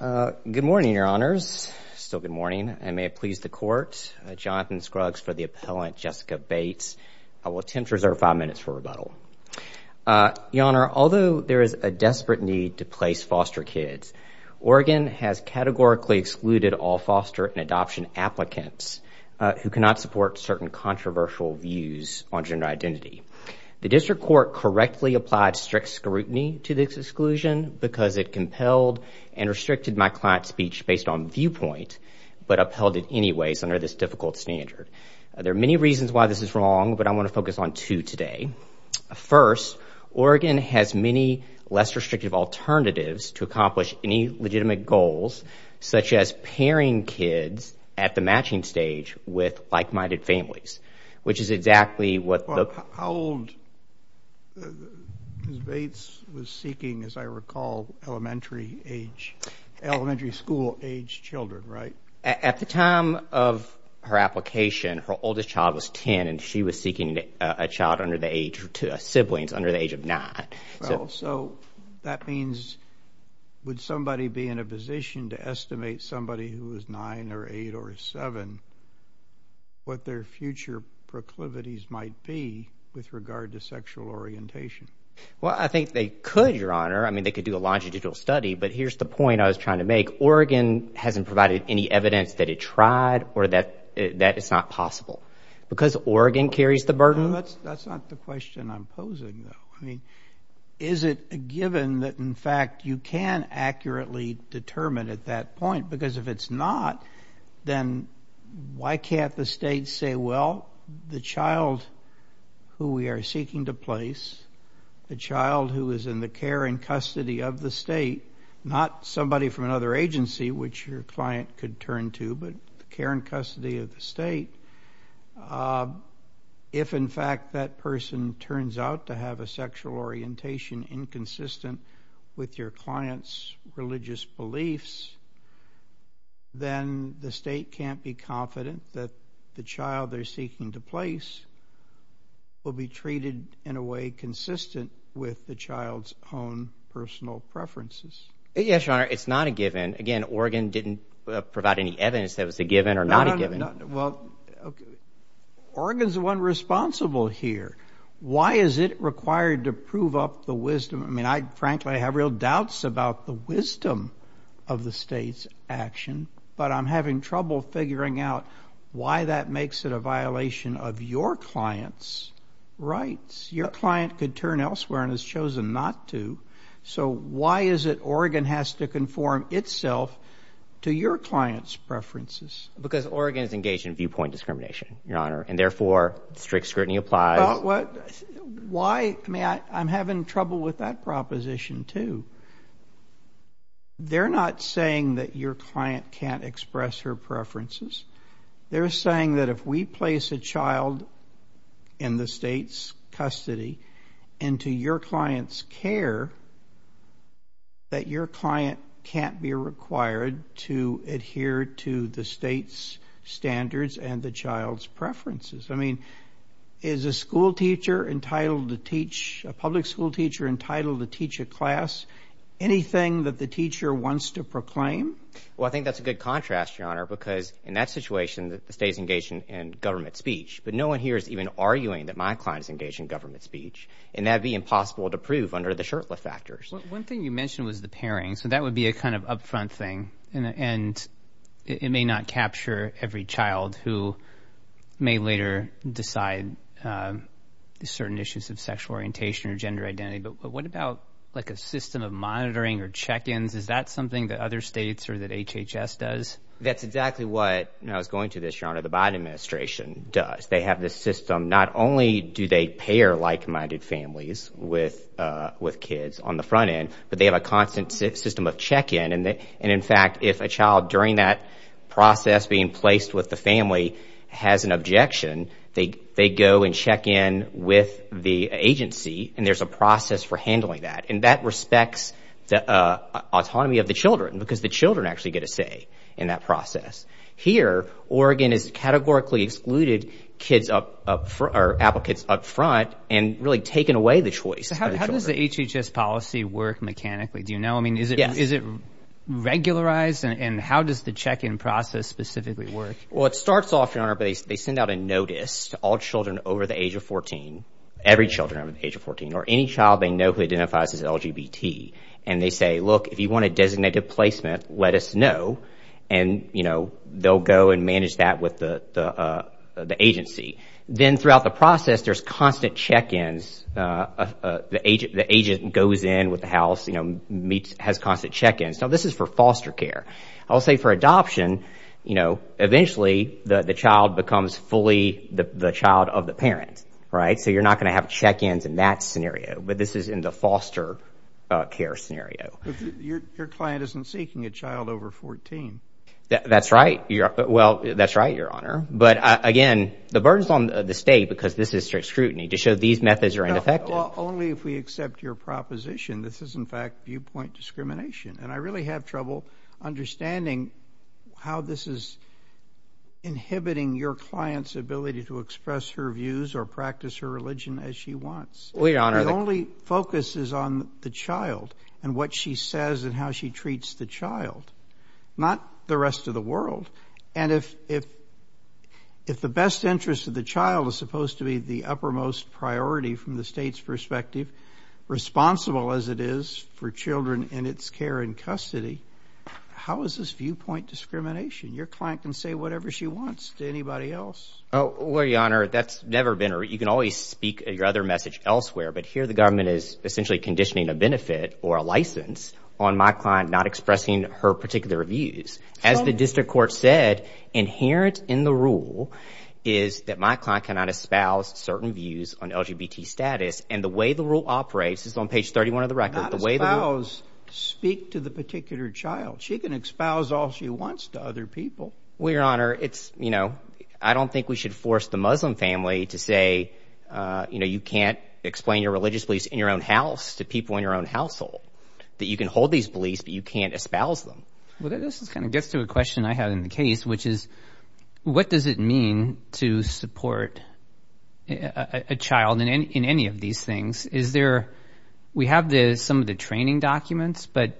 Good morning, Your Honors. Still good morning. And may it please the Court, Jonathan Scruggs for the appellant, Jessica Bates. I will attempt to reserve five minutes for rebuttal. Your Honor, although there is a desperate need to place foster kids, Oregon has categorically excluded all foster and adoption applicants who cannot support certain controversial views on gender identity. The district court correctly applied strict scrutiny to this exclusion because it compelled and restricted my client's speech based on viewpoint, but upheld it anyways under this difficult standard. There are many reasons why this is wrong, but I want to focus on two today. First, Oregon has many less restrictive alternatives to accomplish any legitimate goals, such as pairing kids at the matching stage with like-minded families, which is exactly what the… How old was Bates was seeking, as I recall, elementary school-aged children, right? At the time of her application, her oldest child was 10, and she was seeking a child under the age, siblings, under the age of 9. So that means, would somebody be in a position to estimate somebody who was 9 or 8 or 7, what their future proclivities might be with regard to sexual orientation? Well, I think they could, Your Honor. I mean, they could do a longitudinal study, but here's the point I was trying to make. Oregon hasn't provided any evidence that it tried or that it's not possible. Because Oregon carries the burden… That's not the question I'm posing, though. Is it a given that, in fact, you can accurately determine at that point? Because if it's not, then why can't the state say, well, the child who we are seeking to place, the child who is in the care and custody of the state, not somebody from another agency which your client could turn to, but the care and custody of the state, if in fact that person turns out to have a sexual orientation inconsistent with your client's religious beliefs, then the state can't be confident that the child they're seeking to place will be treated in a way consistent with the child's own personal preferences. Yes, Your Honor. It's not a given. Again, Oregon didn't provide any evidence that it was a given or not a given. Well, Oregon's the one responsible here. Why is it required to prove up the wisdom? I mean, I frankly have real doubts about the wisdom of the state's action, but I'm having trouble figuring out why that makes it a violation of your client's rights. Your client could turn elsewhere and has chosen not to. So why is it Oregon has to conform itself to your client's preferences? Because Oregon is engaged in viewpoint discrimination, Your Honor, and therefore strict scrutiny applies. Well, I'm having trouble with that proposition, too. They're not saying that your client can't express her preferences. They're saying that if we place a child in the state's custody into your client's care, that your client can't be required to adhere to the state's standards and the child's preferences. I mean, is a school teacher entitled to teach, a public school teacher entitled to teach a class anything that the teacher wants to proclaim? Well, I think that's a good contrast, Your Honor, because in that situation, the state's engaged in government speech, but no one here is even arguing that my client is engaged in government speech, and that would be impossible to prove under the shirtlift factors. One thing you mentioned was the pairing, so that would be a kind of upfront thing, and it may not capture every child who may later decide certain issues of sexual orientation or gender identity, but what about like a system of monitoring or check-ins? Is that something that other states or that HHS does? That's exactly what, and I was going to this, Your Honor, the Biden administration does. They have this system. Not only do they pair like-minded families with kids on the front end, but they have a constant system of check-in, and in fact, if a child during that process being placed with the family has an objection, they go and check-in with the agency, and there's a process for handling that, and that respects the autonomy of the children because the children actually get a say in that process. Here, Oregon has categorically excluded kids up, or applicants up front and really taken away the choice. So how does the HHS policy work mechanically? Do you know? I mean, is it regularized, and how does the check-in process specifically work? Well, it starts off, Your Honor, but they send out a notice to all children over the age of 14, every child over the age of 14, or any child they know who identifies as LGBT, and they say, look, if you want a designated placement, let us know, and, you know, they'll go and manage that with the agency. Then throughout the process, there's constant check-ins. The agent goes in with the house, you know, meets, has constant check-ins. Now, this is for foster care. I'll say for adoption, you know, eventually the child becomes fully the child of the parent, right? So you're not going to have check-ins in that scenario, but this is in the foster care scenario. Your client isn't seeking a child over 14. That's right. Well, that's right, Your Honor, but, again, the burden's on the state because this is strict scrutiny to show these methods are ineffective. No, only if we accept your proposition. This is, in fact, viewpoint discrimination, and I really have trouble understanding how this is inhibiting your client's ability to express her views or practice her religion as she wants. Well, Your Honor, the only focus is on the child and what she says and how she treats the child, not the rest of the world, and if the best interest of the child is supposed to be the uppermost priority from the state's perspective, responsible as it is for children in its care and custody, how is this viewpoint discrimination? Your client can say whatever she wants to anybody else. Well, Your Honor, that's never been, or you can always speak your other message elsewhere, but here the government is essentially conditioning a benefit or a license on my client not to expressing her particular views. As the district court said, inherent in the rule is that my client cannot espouse certain views on LGBT status, and the way the rule operates is on page 31 of the record. Not espouse, speak to the particular child. She can espouse all she wants to other people. Well, Your Honor, it's, you know, I don't think we should force the Muslim family to say, you know, you can't explain your religious beliefs in your own house to people in your own household, that you can hold these beliefs, but you can't espouse them. Well, this kind of gets to a question I have in the case, which is, what does it mean to support a child in any of these things? Is there, we have some of the training documents, but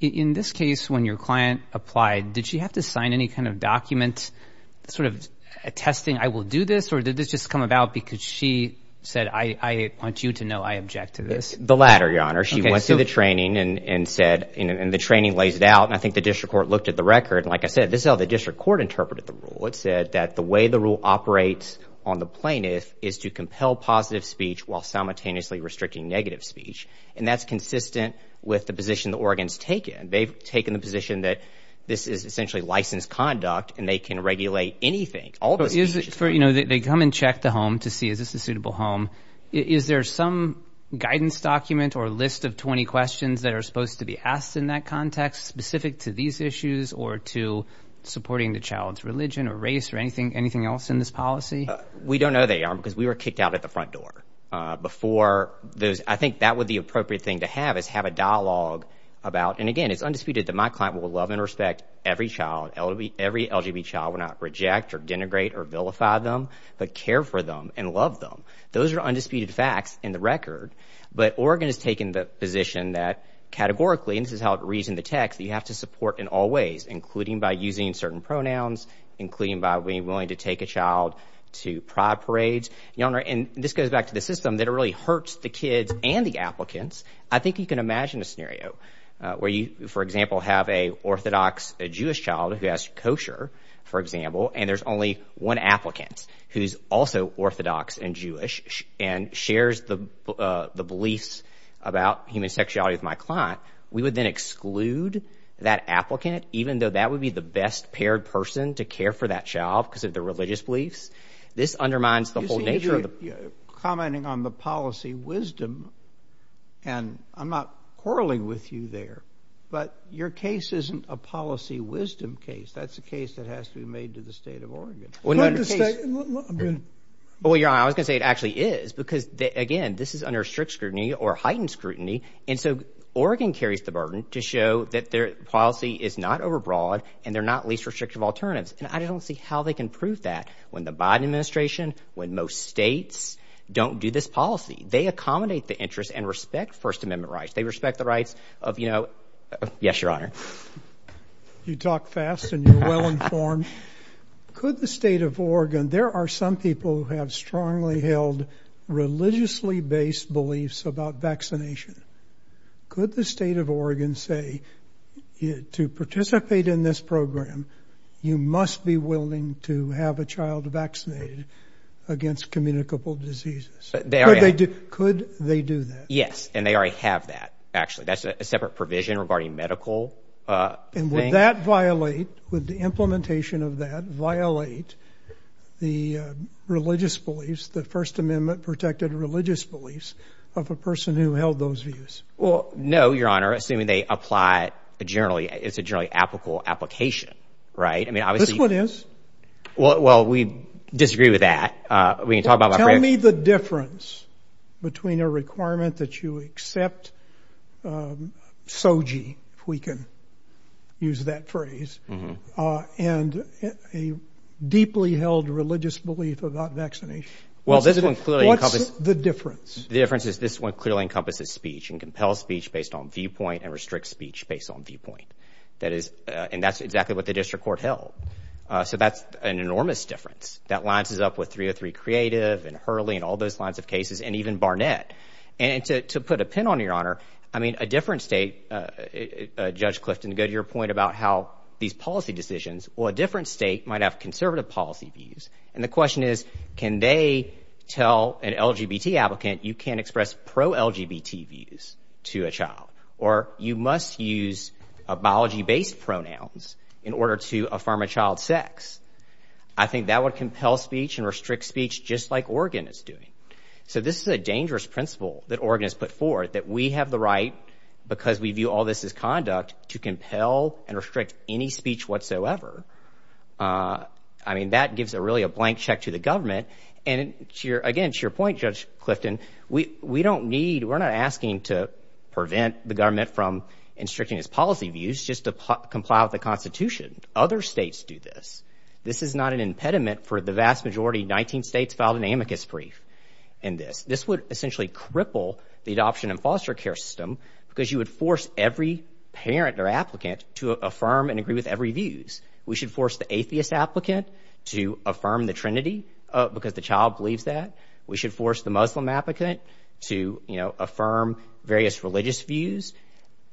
in this case, when your client applied, did she have to sign any kind of document sort of attesting, I will do this, or did this just come about because she said, I want you to know I object to this? The latter, Your Honor. She went through the training and said, and the training lays it out, and I think the district court looked at the record, and like I said, this is how the district court interpreted the rule. It said that the way the rule operates on the plaintiff is to compel positive speech while simultaneously restricting negative speech, and that's consistent with the position the Oregon's taken. They've taken the position that this is essentially licensed conduct, and they can regulate anything. All the speech. You know, they come and check the home to see, is this a suitable home? Is there some guidance document or list of 20 questions that are supposed to be asked in that context specific to these issues or to supporting the child's religion or race or anything else in this policy? We don't know they are because we were kicked out at the front door before those, I think that would be the appropriate thing to have is have a dialogue about, and again, it's undisputed that my client will love and respect every child, every LGB child, will not reject or denigrate or vilify them, but care for them and love them. Those are undisputed facts in the record, but Oregon has taken the position that categorically, and this is how it reads in the text, you have to support in all ways, including by using certain pronouns, including by being willing to take a child to pride parades. You know, and this goes back to the system that really hurts the kids and the applicants. I think you can imagine a scenario where you, for example, have a Orthodox Jewish child who has kosher, for example, and there's only one applicant who's also Orthodox and Jewish. And shares the beliefs about human sexuality with my client. We would then exclude that applicant, even though that would be the best paired person to care for that child, because of the religious beliefs. This undermines the whole nature of the... You see, you're commenting on the policy wisdom, and I'm not quarreling with you there, but your case isn't a policy wisdom case. That's a case that has to be made to the state of Oregon. Well, your honor, I was going to say it actually is, because again, this is under strict scrutiny or heightened scrutiny, and so Oregon carries the burden to show that their policy is not overbroad and they're not least restrictive alternatives. And I don't see how they can prove that when the Biden administration, when most states don't do this policy. They accommodate the interests and respect First Amendment rights. They respect the rights of, you know, yes, your honor. You talk fast and you're well informed. Could the state of Oregon... There are some people who have strongly held religiously based beliefs about vaccination. Could the state of Oregon say, to participate in this program, you must be willing to have a child vaccinated against communicable diseases? Could they do that? Yes. And they already have that, actually. That's a separate provision regarding medical. And would that violate, would the implementation of that violate the religious beliefs, the First Amendment protected religious beliefs of a person who held those views? Well, no, your honor, assuming they apply generally, it's a generally applicable application, right? I mean, obviously... This one is? Well, we disagree with that. We can talk about... Tell me the difference between a requirement that you accept SOGI, if we can use that phrase, and a deeply held religious belief about vaccination. Well, this one clearly encompasses... What's the difference? The difference is this one clearly encompasses speech and compels speech based on viewpoint and restricts speech based on viewpoint. That is, and that's exactly what the district court held. So that's an enormous difference. That lines us up with 303 Creative and Hurley and all those lines of cases, and even Barnett. And to put a pin on your honor, I mean, a different state, Judge Clifton, to go to your point about how these policy decisions, well, a different state might have conservative policy views. And the question is, can they tell an LGBT applicant, you can't express pro-LGBT views to a child? Or you must use a biology-based pronouns in order to affirm a child's sex. I think that would compel speech and restrict speech, just like Oregon is doing. So this is a dangerous principle that Oregon has put forward, that we have the right, because we view all this as conduct, to compel and restrict any speech whatsoever. I mean, that gives really a blank check to the government. And again, to your point, Judge Clifton, we don't need, we're not asking to prevent the government from restricting its policy views just to comply with the Constitution. Other states do this. This is not an impediment for the vast majority, 19 states filed an amicus brief in this. This would essentially cripple the adoption and foster care system, because you would force every parent or applicant to affirm and agree with every views. We should force the atheist applicant to affirm the Trinity, because the child believes that. We should force the Muslim applicant to, you know, affirm various religious views.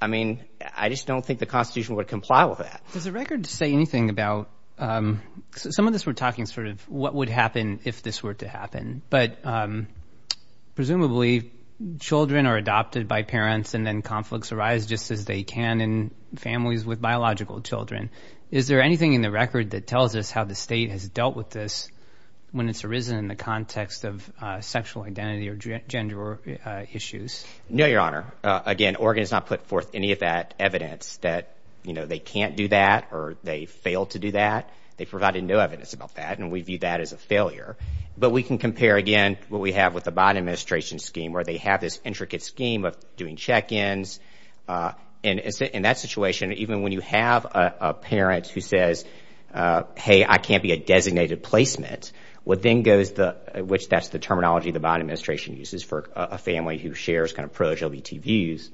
I mean, I just don't think the Constitution would comply with that. Does the record say anything about, some of this, we're talking sort of what would happen if this were to happen, but presumably children are adopted by parents and then conflicts arise just as they can in families with biological children. Is there anything in the record that tells us how the state has dealt with this when it's arisen in the context of sexual identity or gender issues? No, Your Honor, again, Oregon has not put forth any of that evidence that, you know, they can't do that or they failed to do that. They provided no evidence about that, and we view that as a failure. But we can compare, again, what we have with the Bond Administration scheme, where they have this intricate scheme of doing check-ins, and in that situation, even when you have a parent who says, hey, I can't be a designated placement, what then goes, which that's the terminology the Bond Administration uses for a family who shares kind of pro LGBT views,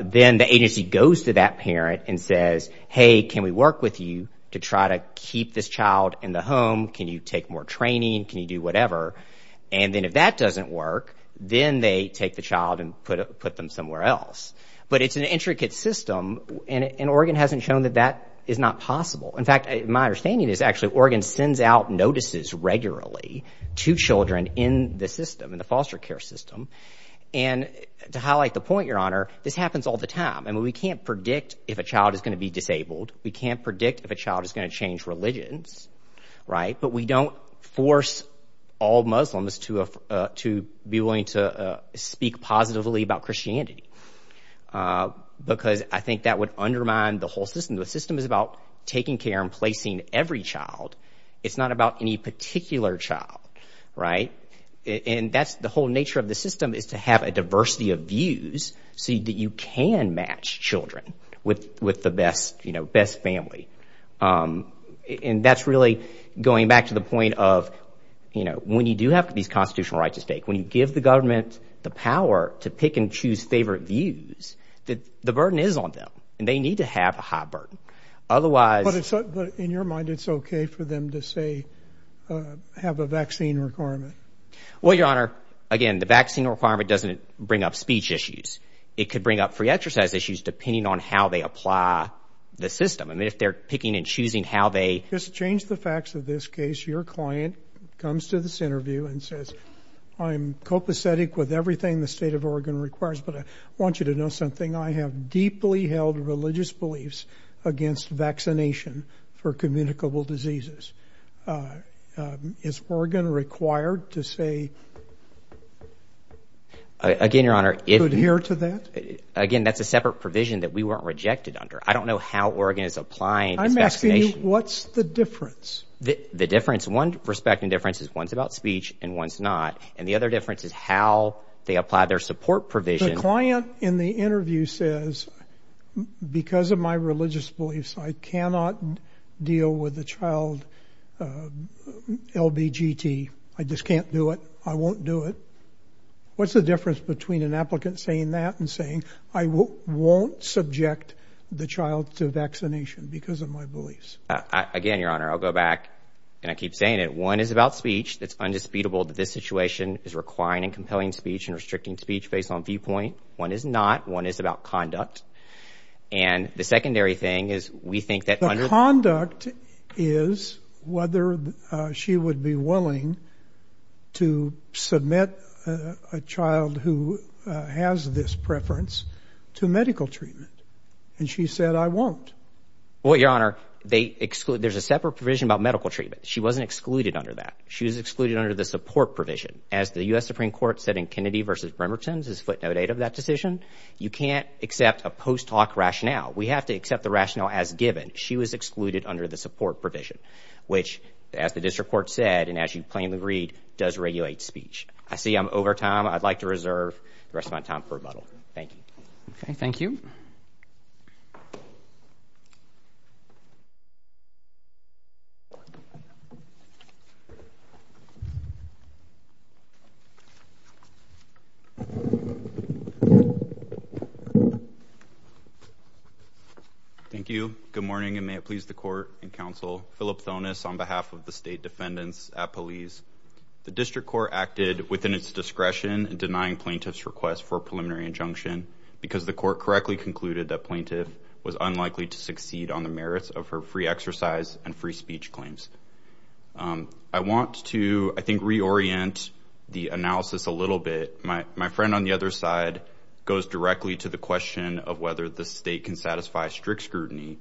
then the agency goes to that parent and says, hey, can we work with you to try to keep this child in the home? Can you take more training? Can you do whatever? And then if that doesn't work, then they take the child and put them somewhere else. But it's an intricate system, and Oregon hasn't shown that that is not possible. In fact, my understanding is actually Oregon sends out notices regularly to children in the system, in the foster care system. And to highlight the point, Your Honor, this happens all the time, and we can't predict if a child is going to be disabled. We can't predict if a child is going to change religions, right? But we don't force all Muslims to be willing to speak positively about Christianity, because I think that would undermine the whole system. The system is about taking care and placing every child. It's not about any particular child, right? And that's the whole nature of the system, is to have a diversity of views so that you can match children with the best family. And that's really going back to the point of, you know, when you do have these constitutional rights at stake, when you give the government the power to pick and choose favorite views, the burden is on them, and they need to have a high burden. Otherwise... But in your mind, it's okay for them to, say, have a vaccine requirement? Well, Your Honor, again, the vaccine requirement doesn't bring up speech issues. It could bring up free exercise issues, depending on how they apply the system. I mean, if they're picking and choosing how they... Just change the facts of this case. Your client comes to this interview and says, I'm copacetic with everything the state of Oregon requires, but I want you to know something. I have deeply held religious beliefs against vaccination for communicable diseases. Is Oregon required to say, to adhere to that? Again, Your Honor, again, that's a separate provision that we weren't rejected under. I don't know how Oregon is applying its vaccination. I'm asking you, what's the difference? The difference, one perspective difference is one's about speech and one's not. And the other difference is how they apply their support provision. The client in the interview says, because of my religious beliefs, I cannot deal with the child LBGT. I just can't do it. I won't do it. What's the difference between an applicant saying that and saying, I won't subject the child to vaccination because of my beliefs? Again, Your Honor, I'll go back and I keep saying it. One is about speech. It's undisputable that this situation is requiring compelling speech and restricting speech based on viewpoint. One is not. One is about conduct. And the secondary thing is we think that under the conduct is whether she would be willing to submit a child who has this preference to medical treatment. And she said, I won't. Well, Your Honor, they exclude there's a separate provision about medical treatment. She wasn't excluded under that. She was excluded under the support provision. As the U.S. Supreme Court said in Kennedy v. Bremerton, this is footnote 8 of that decision, you can't accept a post-talk rationale. We have to accept the rationale as given. She was excluded under the support provision, which, as the district court said and as you plainly read, does regulate speech. I see I'm over time. I'd like to reserve the rest of my time for rebuttal. Thank you. Okay. Thank you. Thank you. Good morning and may it please the court and counsel. Philip Thonis on behalf of the state defendants at police. The district court acted within its discretion in denying plaintiff's request for a preliminary injunction because the court correctly concluded that plaintiff was unlikely to succeed on the merits of her free exercise and free speech claims. I want to, I think, reorient the analysis a little bit. My friend on the other side goes directly to the question of whether the state can satisfy strict scrutiny,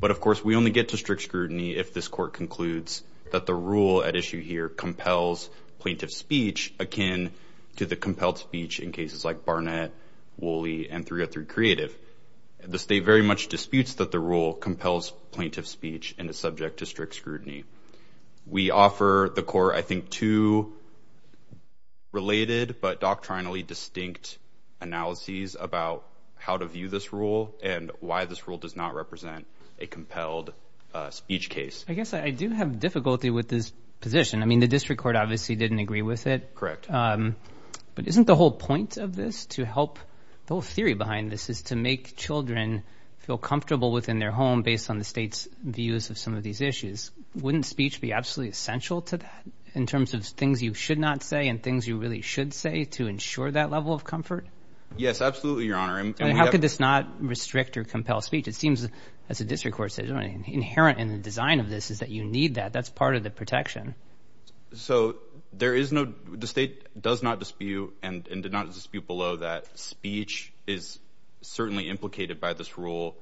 but of course we only get to strict scrutiny if this court concludes that the rule at issue here compels plaintiff's speech akin to the compelled speech in cases like Barnett, Woolley, and 303 Creative. The state very much disputes that the rule compels plaintiff's speech and is subject to strict scrutiny. We offer the court, I think, two related but doctrinally distinct analyses about how to view this rule and why this rule does not represent a compelled speech case. I guess I do have difficulty with this position. I mean, the district court obviously didn't agree with it. Correct. But isn't the whole point of this to help, the whole theory behind this is to make children feel comfortable within their home based on the state's views of some of these issues. Wouldn't speech be absolutely essential to that in terms of things you should not say and things you really should say to ensure that level of comfort? Yes, absolutely, Your Honor. How could this not restrict or compel speech? It seems, as the district court says, inherent in the design of this is that you need that. That's part of the protection. So there is no, the state does not dispute and did not dispute below that speech is certainly implicated by this rule.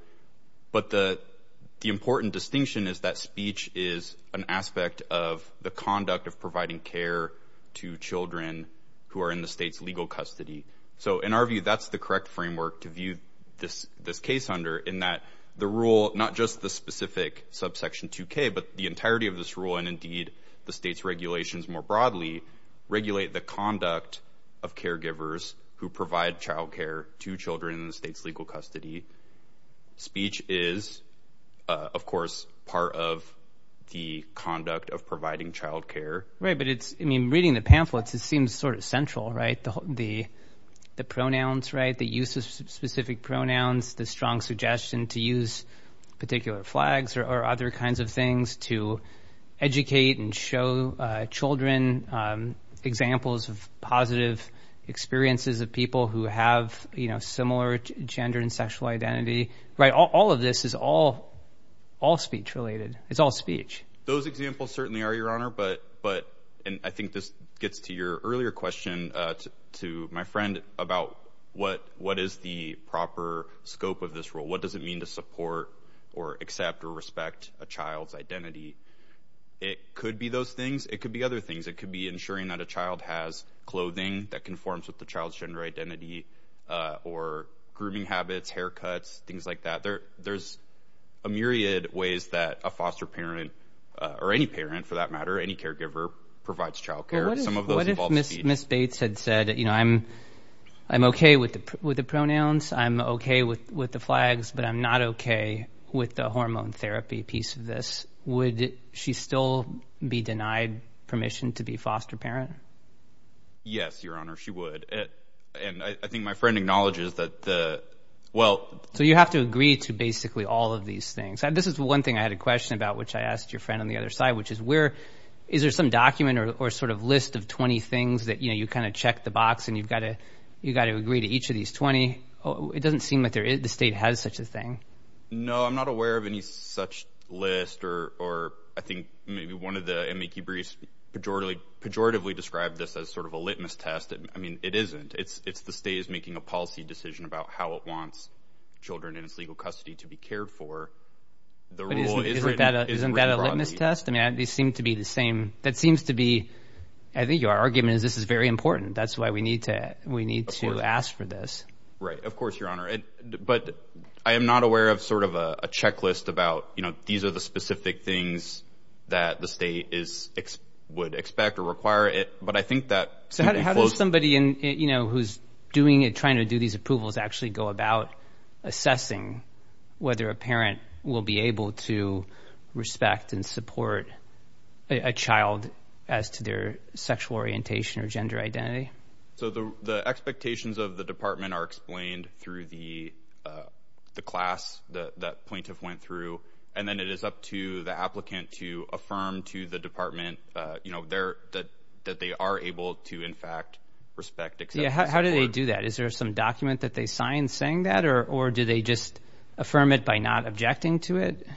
But the important distinction is that speech is an aspect of the conduct of providing care to children who are in the state's legal custody. So in our view, that's the correct framework to view this case under in that the rule, not just the specific subsection 2K, but the entirety of this rule and indeed the state's regulations more broadly, regulate the conduct of caregivers who provide childcare to children in the state's legal custody. Speech is, of course, part of the conduct of providing childcare. But it's, I mean, reading the pamphlets, it seems sort of central, right? The the pronouns, right? The use of specific pronouns, the strong suggestion to use particular flags or other kinds of things to educate and show children examples of positive experiences of people who have, you know, similar gender and sexual identity, right? All of this is all all speech related. It's all speech. Those examples certainly are, Your Honor, but but and I think this gets to your earlier question to my friend about what what is the proper scope of this rule? What does it mean to support or accept or respect a child's identity? It could be those things. It could be other things. It could be ensuring that a child has clothing that conforms with the child's gender identity or grooming habits, haircuts, things like that. There's a myriad of ways that a foster parent or any parent, for that matter, any caregiver provides child care. Some of those involve speech. What if Ms. Bates had said, you know, I'm I'm OK with the with the pronouns. I'm OK with with the flags, but I'm not OK with the hormone therapy piece of this. Would she still be denied permission to be foster parent? Yes, Your Honor, she would. And I think my friend acknowledges that. Well, so you have to agree to basically all of these things. This is one thing I had a question about, which I asked your friend on the other side, which is where is there some document or sort of list of 20 things that, you know, you kind of check the box and you've got to you got to agree to each of these 20. It doesn't seem like there is the state has such a thing. No, I'm not aware of any such list or or I think maybe one of the M.E. Kebris pejoratively pejoratively described this as sort of a litmus test. I mean, it isn't it's it's the state is making a policy decision about how it wants children in its legal custody to be cared for. The rule is that isn't that a litmus test? I mean, they seem to be the same. That seems to be I think your argument is this is very important. That's why we need to we need to ask for this. Right. Of course, Your Honor. But I am not aware of sort of a checklist about, you know, these are the specific things that the state is would expect or require it. But I think that somebody in, you know, who's doing it, trying to do these approvals actually go about assessing whether a parent will be able to respect and support a child as to their sexual orientation or gender identity. So the expectations of the department are explained through the the class that plaintiff went through, and then it is up to the applicant to affirm to the department, you know, there that that they are able to, in fact, respect. Yeah. How do they do that? Is there some document that they signed saying that or or do they just affirm it by not objecting to it?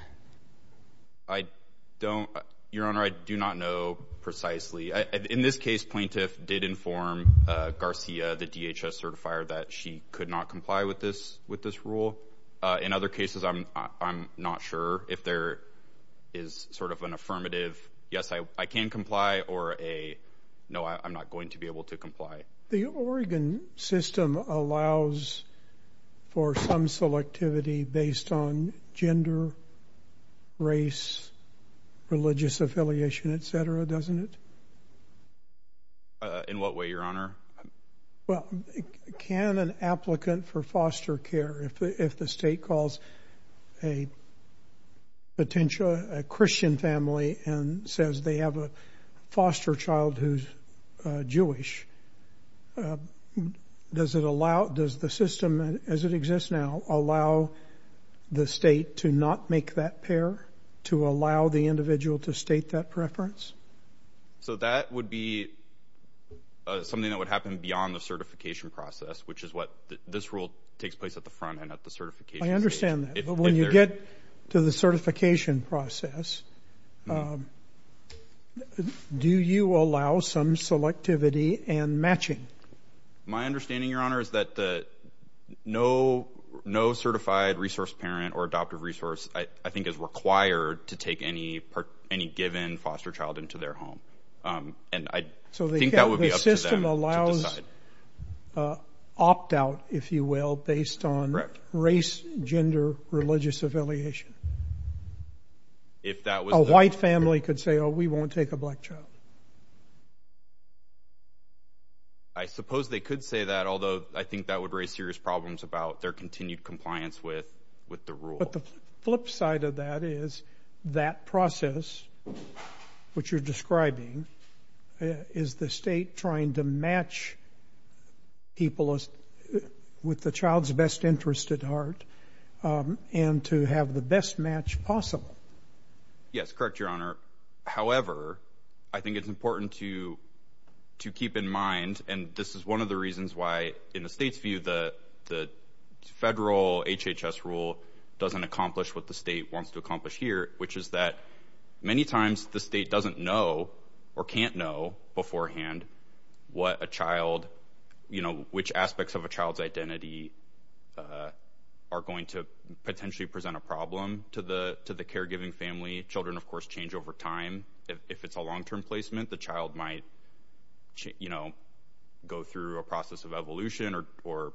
I don't, Your Honor, I do not know precisely. In this case, plaintiff did inform Garcia, the DHS certifier, that she could not comply with this with this rule. In other cases, I'm I'm not sure if there is sort of an affirmative yes, I can comply or a no, I'm not going to be able to comply. The Oregon system allows for some selectivity based on gender, race, religious affiliation, et cetera, doesn't it? Uh, in what way, Your Honor? Well, can an applicant for foster care, if the state calls a potential Christian family and says they have a foster child who's Jewish, does it allow does the system as it exists now allow the state to not make that pair to allow the individual to state that preference? So that would be something that would happen beyond the certification process, which is what this rule takes place at the front end of the certification. I understand that. But when you get to the certification process, um, do you allow some selectivity and matching? My understanding, Your Honor, is that the no, no certified resource parent or adoptive resource, I think is required to take any part, any given foster child into their home. Um, and I think that would be up to them to decide. Uh, opt out, if you will, based on race, gender, religious affiliation. If that was a white family could say, oh, we won't take a black child. I suppose they could say that. Although I think that would raise serious problems about their continued compliance with, with the rule. But the flip side of that is that process, which you're describing, is the state trying to match people with the child's best interest at heart, um, and to have the best match possible? Yes, correct, Your Honor. However, I think it's important to, to keep in mind, and this is one of the reasons why, in the state's view, the, the federal HHS rule doesn't accomplish what the state wants to accomplish here, which is that many times the state doesn't know or can't know beforehand what a child, you know, which aspects of a child's identity, uh, are going to potentially present a problem to the, to the caregiving family. Children, of course, change over time. If it's a long-term placement, the child might, you know, go through a process of evolution or, or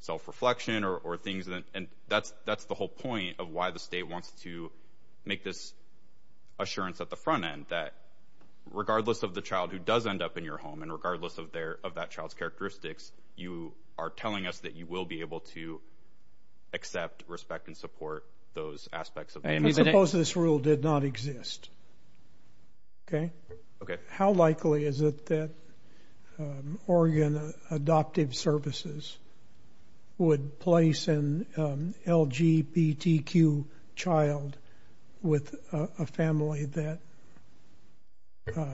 self-reflection or, or things, and that's, that's the whole point of why the state wants to make this assurance at the front end, that regardless of the child who does end up in your home, and regardless of their, of that child's characteristics, you are telling us that you will be able to accept, respect, and support those aspects of that. And suppose this rule did not exist. Okay. Okay. How likely is it that, um, Oregon Adoptive Services would place an, um, LGBTQ child with a family that, uh,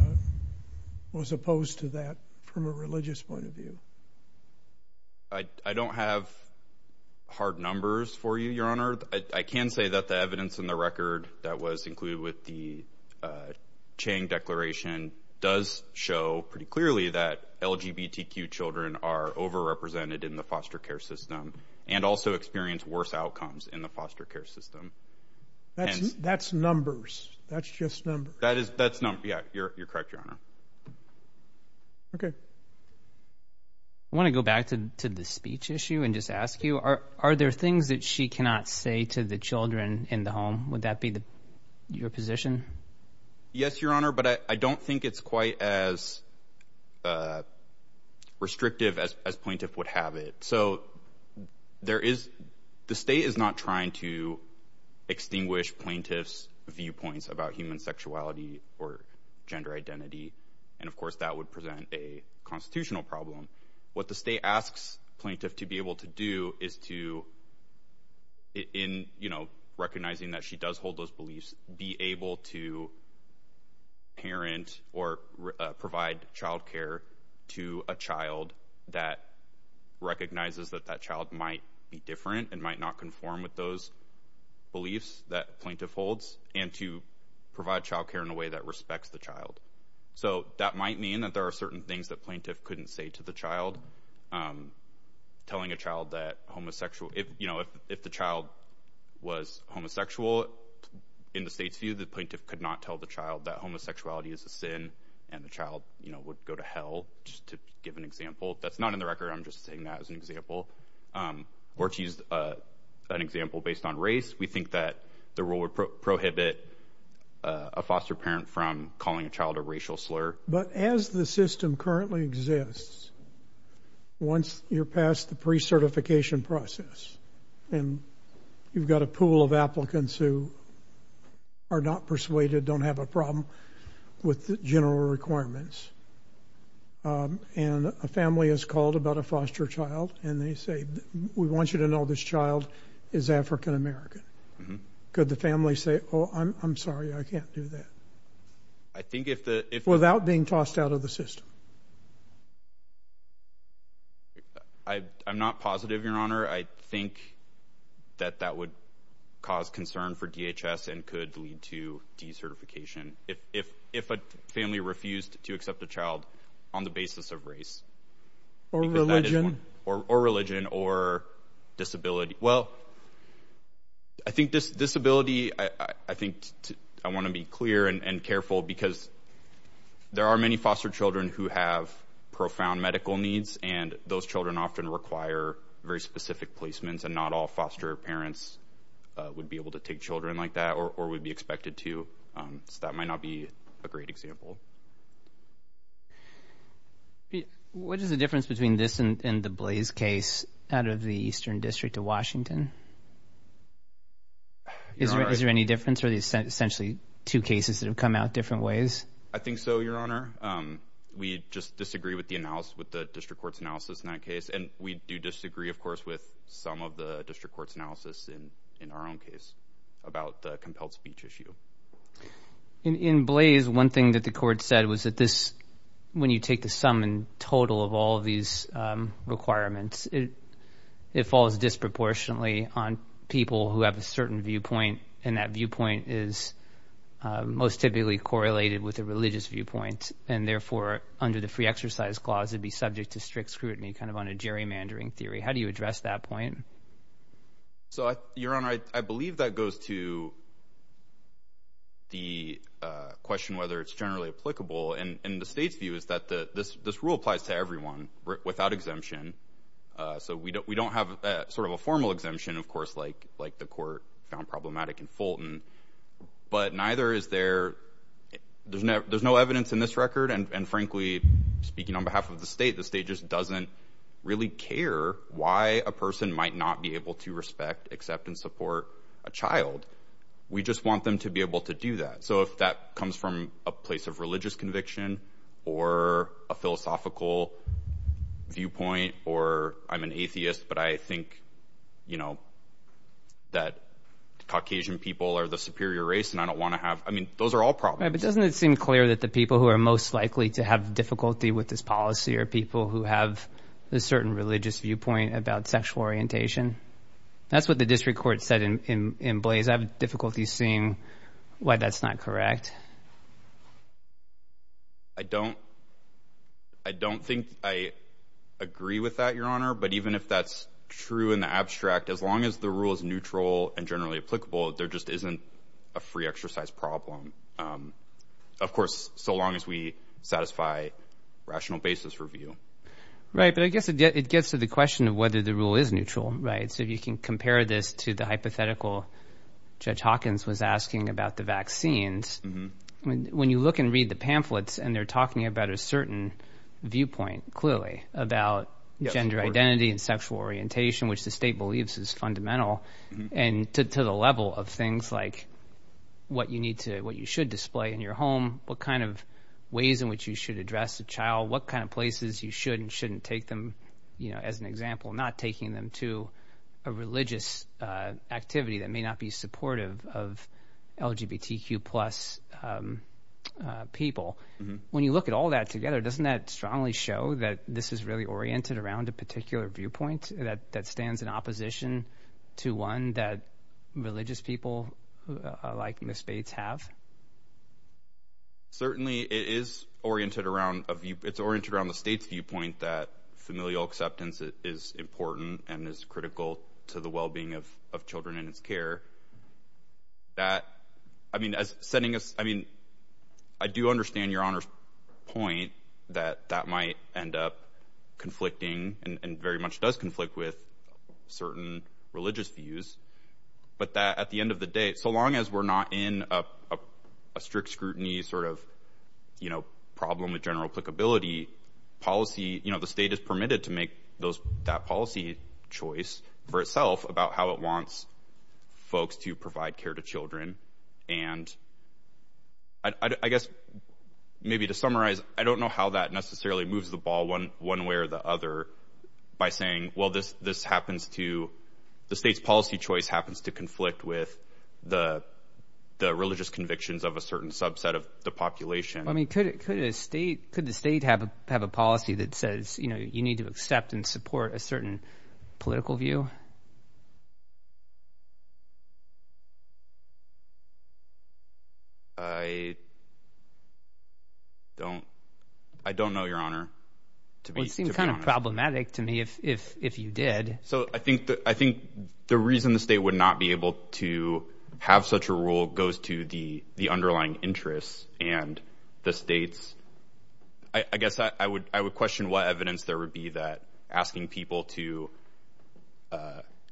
was opposed to that from a religious point of view? I, I don't have hard numbers for you, Your Honor. I can say that the evidence in the record that was included with the, uh, Chang Declaration does show pretty clearly that LGBTQ children are overrepresented in the foster care system and also experience worse outcomes in the foster care system. That's, that's numbers. That's just numbers. That is, that's numbers. Yeah, you're, you're correct, Your Honor. Okay. I want to go back to, to the speech issue and just ask you, are, are there things that she cannot say to the children in the home? Would that be the, your position? Yes, Your Honor. But I don't think it's quite as, uh, restrictive as, as plaintiff would have it. So there is, the state is not trying to extinguish plaintiff's viewpoints about human sexuality or gender identity. And of course that would present a constitutional problem. What the state asks plaintiff to be able to do is to, in, you know, recognizing that she does hold those beliefs, be able to parent or provide childcare to a child that recognizes that that child might be different and might not conform with those beliefs that plaintiff holds and to provide childcare in a way that respects the child. So that might mean that there are certain things that plaintiff couldn't say to the child. Um, telling a child that homosexual, if, you know, if, if the child was homosexual in the state's view, the plaintiff could not tell the child that homosexuality is a sin and the child, you know, would go to hell just to give an example. That's not in the record. I'm just saying that as an example, um, or to use, uh, an example based on race. We think that the rule would prohibit a foster parent from calling a child a racial slur. But as the system currently exists, once you're past the pre-certification process and you've got a pool of applicants who are not persuaded, don't have a problem with the general requirements. Um, and a family has called about a foster child and they say, we want you to know this child is African-American. Could the family say, Oh, I'm sorry, I can't do that. I think if the, if without being tossed out of the system, I, I'm not positive your honor. I think that that would cause concern for DHS and could lead to decertification. If, if, if a family refused to accept a child on the basis of race or religion or religion or disability, well, I think this disability, I think I want to be clear and careful because there are many foster children who have profound medical needs and those children often require very specific placements and not all foster parents would be able to take children like that or, or would be expected to. Um, so that might not be a great example. What is the difference between this and the blaze case out of the Eastern district of Washington? Is there, is there any difference? Are these essentially two cases that have come out different ways? I think so, your honor. Um, we just disagree with the analysis, with the district court's analysis in that case, and we do disagree of course, with some of the district court's analysis in, in our own case about the compelled speech issue in blaze. One thing that the court said was that this, when you take the sum in total of all of these, um, requirements, it, it falls disproportionately on people who have a certain viewpoint and that viewpoint is, uh, most typically correlated with a religious viewpoint. And therefore under the free exercise clause, it'd be subject to strict scrutiny, kind of on a gerrymandering theory. How do you address that point? So I, your honor, I believe that goes to the, uh, question, whether it's generally applicable and, and the state's view is that the, this, this rule applies to everyone without exemption. Uh, so we don't, we don't have a sort of a formal exemption of course, like, like the court found problematic in Fulton, but neither is there. There's no, there's no evidence in this record. And frankly, speaking on behalf of the state, the state just doesn't really care why a person might not be able to respect, accept and support a child. We just want them to be able to do that. So if that comes from a place of religious conviction or a philosophical viewpoint, or I'm an atheist, but I think, you know, that Caucasian people are the superior race and I don't want to have, I mean, those are all problems. Doesn't it seem clear that the people who are most likely to have difficulty with this policy are people who have a certain religious viewpoint about sexual orientation? That's what the district court said in, in, in Blaze. I have difficulty seeing why that's not correct. I don't, I don't think I agree with that, your honor, but even if that's true in the abstract, as long as the rule is neutral and generally applicable, there just isn't a free exercise problem. Um, of course, so long as we satisfy rational basis review. But I guess it gets to the question of whether the rule is neutral, right? So if you can compare this to the hypothetical Judge Hawkins was asking about the vaccines, when you look and read the pamphlets and they're talking about a certain viewpoint, clearly about gender identity and sexual orientation, which the state believes is fundamental and to the level of things like what you need to, what you should display in your home, what kind of ways in which you should address a child, what kind of places you should and shouldn't take them, you know, as an example, not taking them to a religious, uh, activity that may not be supportive of LGBTQ plus, um, uh, people. When you look at all that together, doesn't that strongly show that this is really oriented around a particular viewpoint that, that stands in opposition to one that religious people like Miss Bates have? Certainly it is oriented around a view, it's oriented around the state's viewpoint that familial acceptance is important and is critical to the wellbeing of, of children in its care that, I mean, as sending us, I mean, I do understand your honor's point that that might end up conflicting and very much does conflict with certain religious views, but that at the end of the day, so long as we're not in a, a strict scrutiny sort of, you know, problem with general applicability policy, you know, the state is permitted to make those, that policy choice for itself about how it wants folks to provide care to children. And I guess maybe to summarize, I don't know how that necessarily moves the ball one way or the other by saying, well, this, this happens to the state's policy choice happens to conflict with the, the religious convictions of a certain subset of the population. I mean, could it, could a state, could the state have a, have a policy that says, you know, you need to accept and support a certain political view? I don't, I don't know your honor. It would seem kind of problematic to me if, if, if you did. So I think the, I think the reason the state would not be able to have such a rule goes to the, the underlying interests and the states, I guess I would, I would question what evidence there would be that asking people to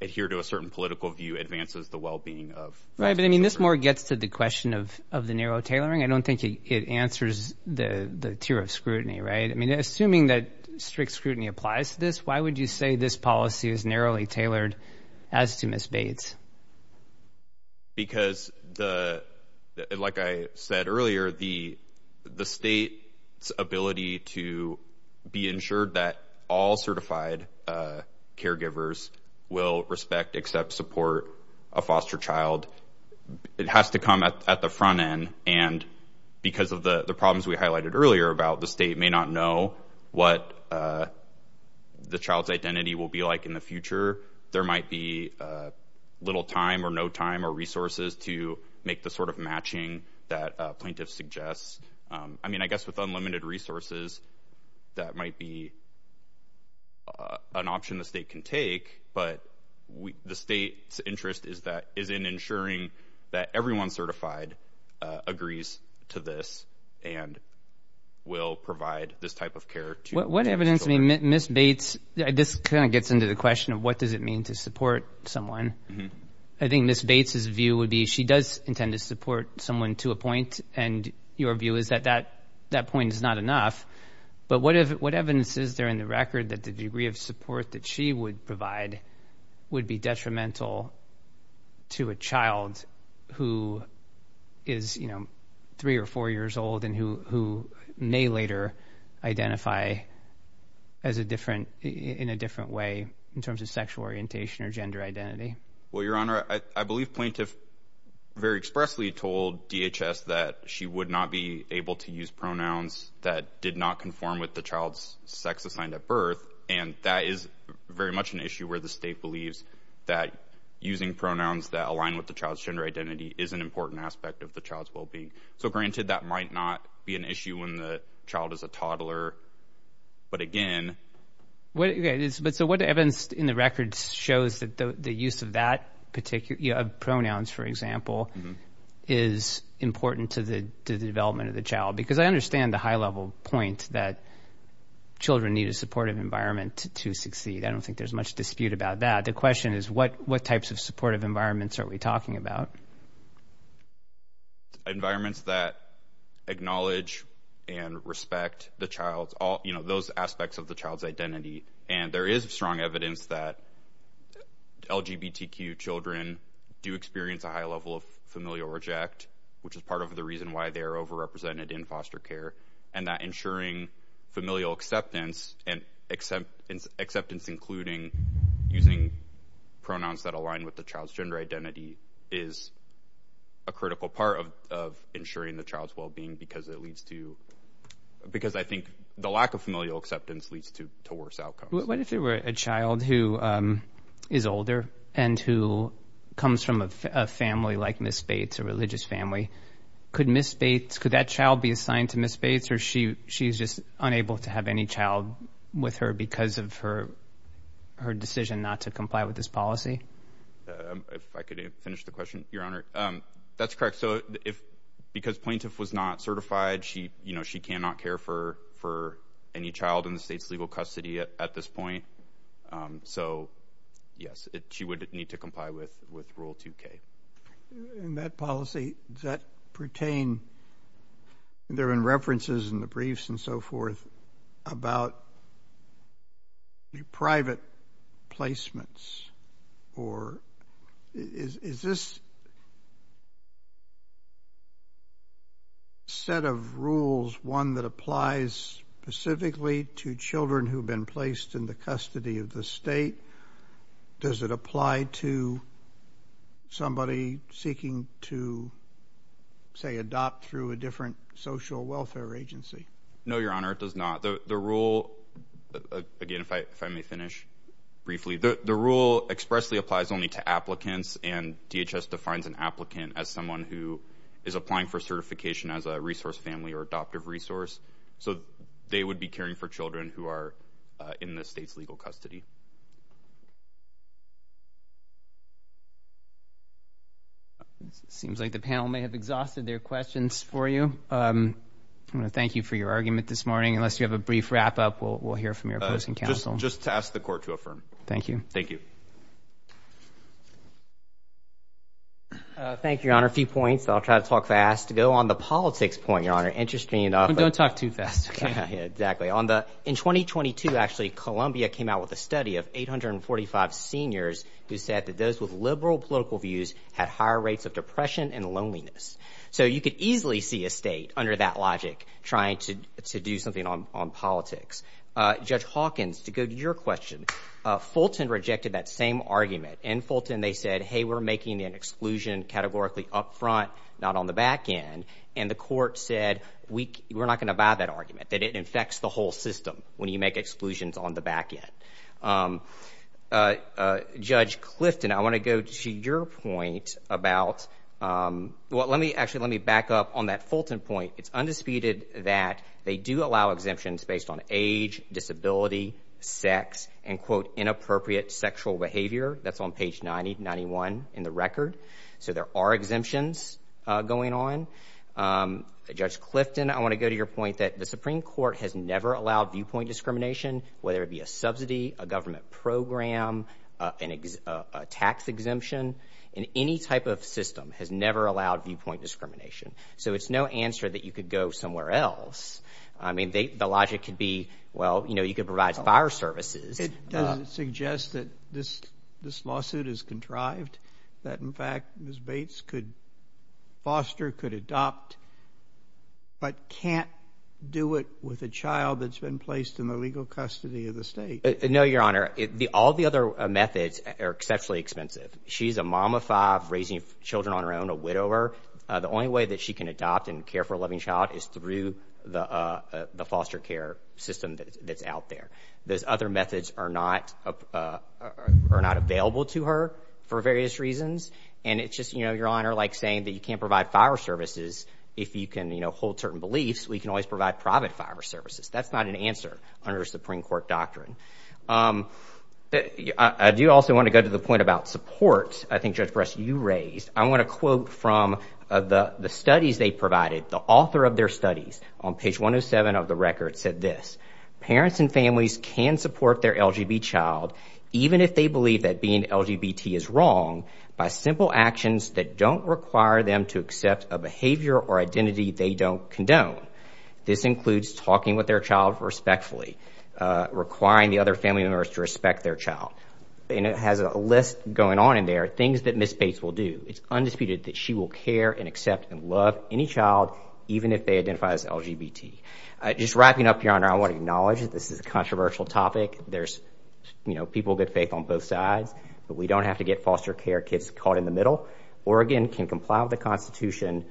adhere to a certain political view advances the wellbeing of. Right. But I mean, this more gets to the question of, of the narrow tailoring. I don't think it answers the, the tier of scrutiny, right? I mean, assuming that strict scrutiny applies to this, why would you say this policy is narrowly tailored as to Ms. Because the, like I said earlier, the, the state's ability to be ensured that all certified, uh, caregivers will respect, accept, support a foster child, it has to come at, at the front end. And because of the, the problems we highlighted earlier about the state may not know what, uh, the child's identity will be like in the future, there might be, uh, little time or no time or resources to make the sort of matching that a plaintiff suggests. Um, I mean, I guess with unlimited resources, that might be, uh, an option the state can take, but we, the state's interest is that, is in ensuring that everyone certified, uh, agrees to this and will provide this type of care to their children. What evidence, I mean, Ms. Bates, this kind of gets into the question of what does it mean to support someone? I think Ms. Bates' view would be, she does intend to support someone to a point. And your view is that, that, that point is not enough. But what if, what evidence is there in the record that the degree of support that she would provide would be detrimental to a child who is, you know, three or four years old and who, who may later identify as a different, in a different way in terms of sexual orientation or gender identity? Well, Your Honor, I believe plaintiff very expressly told DHS that she would not be able to use pronouns that did not conform with the child's sex assigned at birth. And that is very much an issue where the state believes that using pronouns that align with the child's gender identity is an important aspect of the child's well-being. So granted, that might not be an issue when the child is a toddler, but again. What is, but so what evidence in the records shows that the use of that particular, you know, of pronouns, for example, is important to the, to the development of the child? Because I understand the high level point that children need a supportive environment to succeed. I don't think there's much dispute about that. The question is what, what types of supportive environments are we talking about? Environments that acknowledge and respect the child's all, you know, those aspects of the child's identity. And there is strong evidence that LGBTQ children do experience a high level of familial reject, which is part of the reason why they're overrepresented in foster care and that ensuring familial acceptance and acceptance, acceptance, including using pronouns that align with the child's gender identity is a critical part of, of ensuring the child's well-being because it leads to, because I think the lack of familial acceptance leads to, to worse outcomes. What if it were a child who is older and who comes from a family like Ms. Bates, a religious family? Could Ms. Bates, could that child be assigned to Ms. Bates or she, she's just unable to have any child with her because of her, her decision not to comply with this policy? If I could finish the question, Your Honor. Um, that's correct. So if, because plaintiff was not certified, she, you know, she cannot care for, for any child in the state's legal custody at, at this point. Um, so yes, it, she would need to comply with, with rule 2K. In that policy, does that pertain, there have been references in the briefs and so forth about private placements or is, is this set of rules, one that applies specifically to children who've been placed in the custody of the state? Does it apply to somebody seeking to say adopt through a different social welfare agency? No, Your Honor, it does not. The, the rule, again, if I, if I may finish briefly, the, the rule expressly applies only to applicants and DHS defines an applicant as someone who is applying for certification as a resource family or adoptive resource. So they would be caring for children who are in the state's legal custody. It seems like the panel may have exhausted their questions for you. Um, I'm going to thank you for your argument this morning. Unless you have a brief wrap up, we'll, we'll hear from your opposing counsel. Just to ask the court to affirm. Thank you. Thank you. Uh, thank you, Your Honor. A few points. I'll try to talk fast to go on the politics point, Your Honor. Interesting enough. Don't talk too fast. Yeah, exactly. On the, in 2022, actually, Columbia came out with a study of 845 seniors who said that those with liberal political views had higher rates of depression and loneliness. So you could easily see a state under that logic trying to do something on, on Uh, Judge Hawkins, to go to your question, uh, Fulton rejected that same argument and Fulton, they said, Hey, we're making an exclusion categorically upfront, not on the back end. And the court said, we, we're not going to buy that argument that it infects the whole system when you make exclusions on the back end. Um, uh, uh, Judge Clifton, I want to go to your point about, um, well, let me actually, let me back up on that Fulton point. It's undisputed that they do allow exemptions based on age, disability, sex, and quote, inappropriate sexual behavior. That's on page 90, 91 in the record. So there are exemptions going on. Um, Judge Clifton, I want to go to your point that the Supreme Court has never allowed viewpoint discrimination, whether it be a subsidy, a government program, uh, an ex, uh, a tax exemption in any type of system has never allowed viewpoint discrimination. So it's no answer that you could go somewhere else. I mean, they, the logic could be, well, you know, you could provide fire services. Does it suggest that this, this lawsuit is contrived that in fact, Ms. Bates could foster, could adopt, but can't do it with a child that's been placed in the legal custody of the state? No, Your Honor. It, the, all the other methods are exceptionally expensive. She's a mom of five raising children on her own, a widower. Uh, the only way that she can adopt and care for a loving child is through the, uh, uh, the foster care system that's out there. Those other methods are not, uh, are not available to her for various reasons. And it's just, you know, Your Honor, like saying that you can't provide fire services if you can, you know, hold certain beliefs, we can always provide private fire services. That's not an answer under Supreme Court doctrine. Um, I do also want to go to the point about support. I think Judge Bress, you raised, I want to quote from, uh, the, the studies they provided, the author of their studies on page 107 of the record said this, parents and families can support their LGB child even if they believe that being LGBT is wrong by simple actions that don't require them to accept a behavior or identity they don't condone. This includes talking with their child respectfully, uh, requiring the other family members to respect their child. And it has a list going on in there, things that Ms. Bates will do. It's undisputed that she will care and accept and love any child, even if they identify as LGBT. Uh, just wrapping up, Your Honor, I want to acknowledge that this is a controversial topic. There's, you know, people of good faith on both sides, but we don't have to get foster care kids caught in the middle. Oregon can comply with the constitution,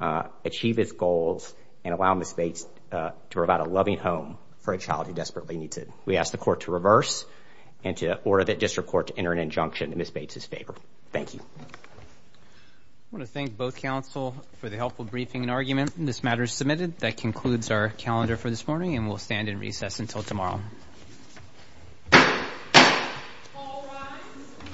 uh, achieve its goals and allow Ms. Bates, uh, to provide a loving home for a child who desperately needs it. We asked the court to reverse and to order that district court to enter an injunction in Ms. Bates' favor. Thank you. I want to thank both counsel for the helpful briefing and argument. This matter is submitted. That concludes our calendar for this morning and we'll stand in recess until tomorrow.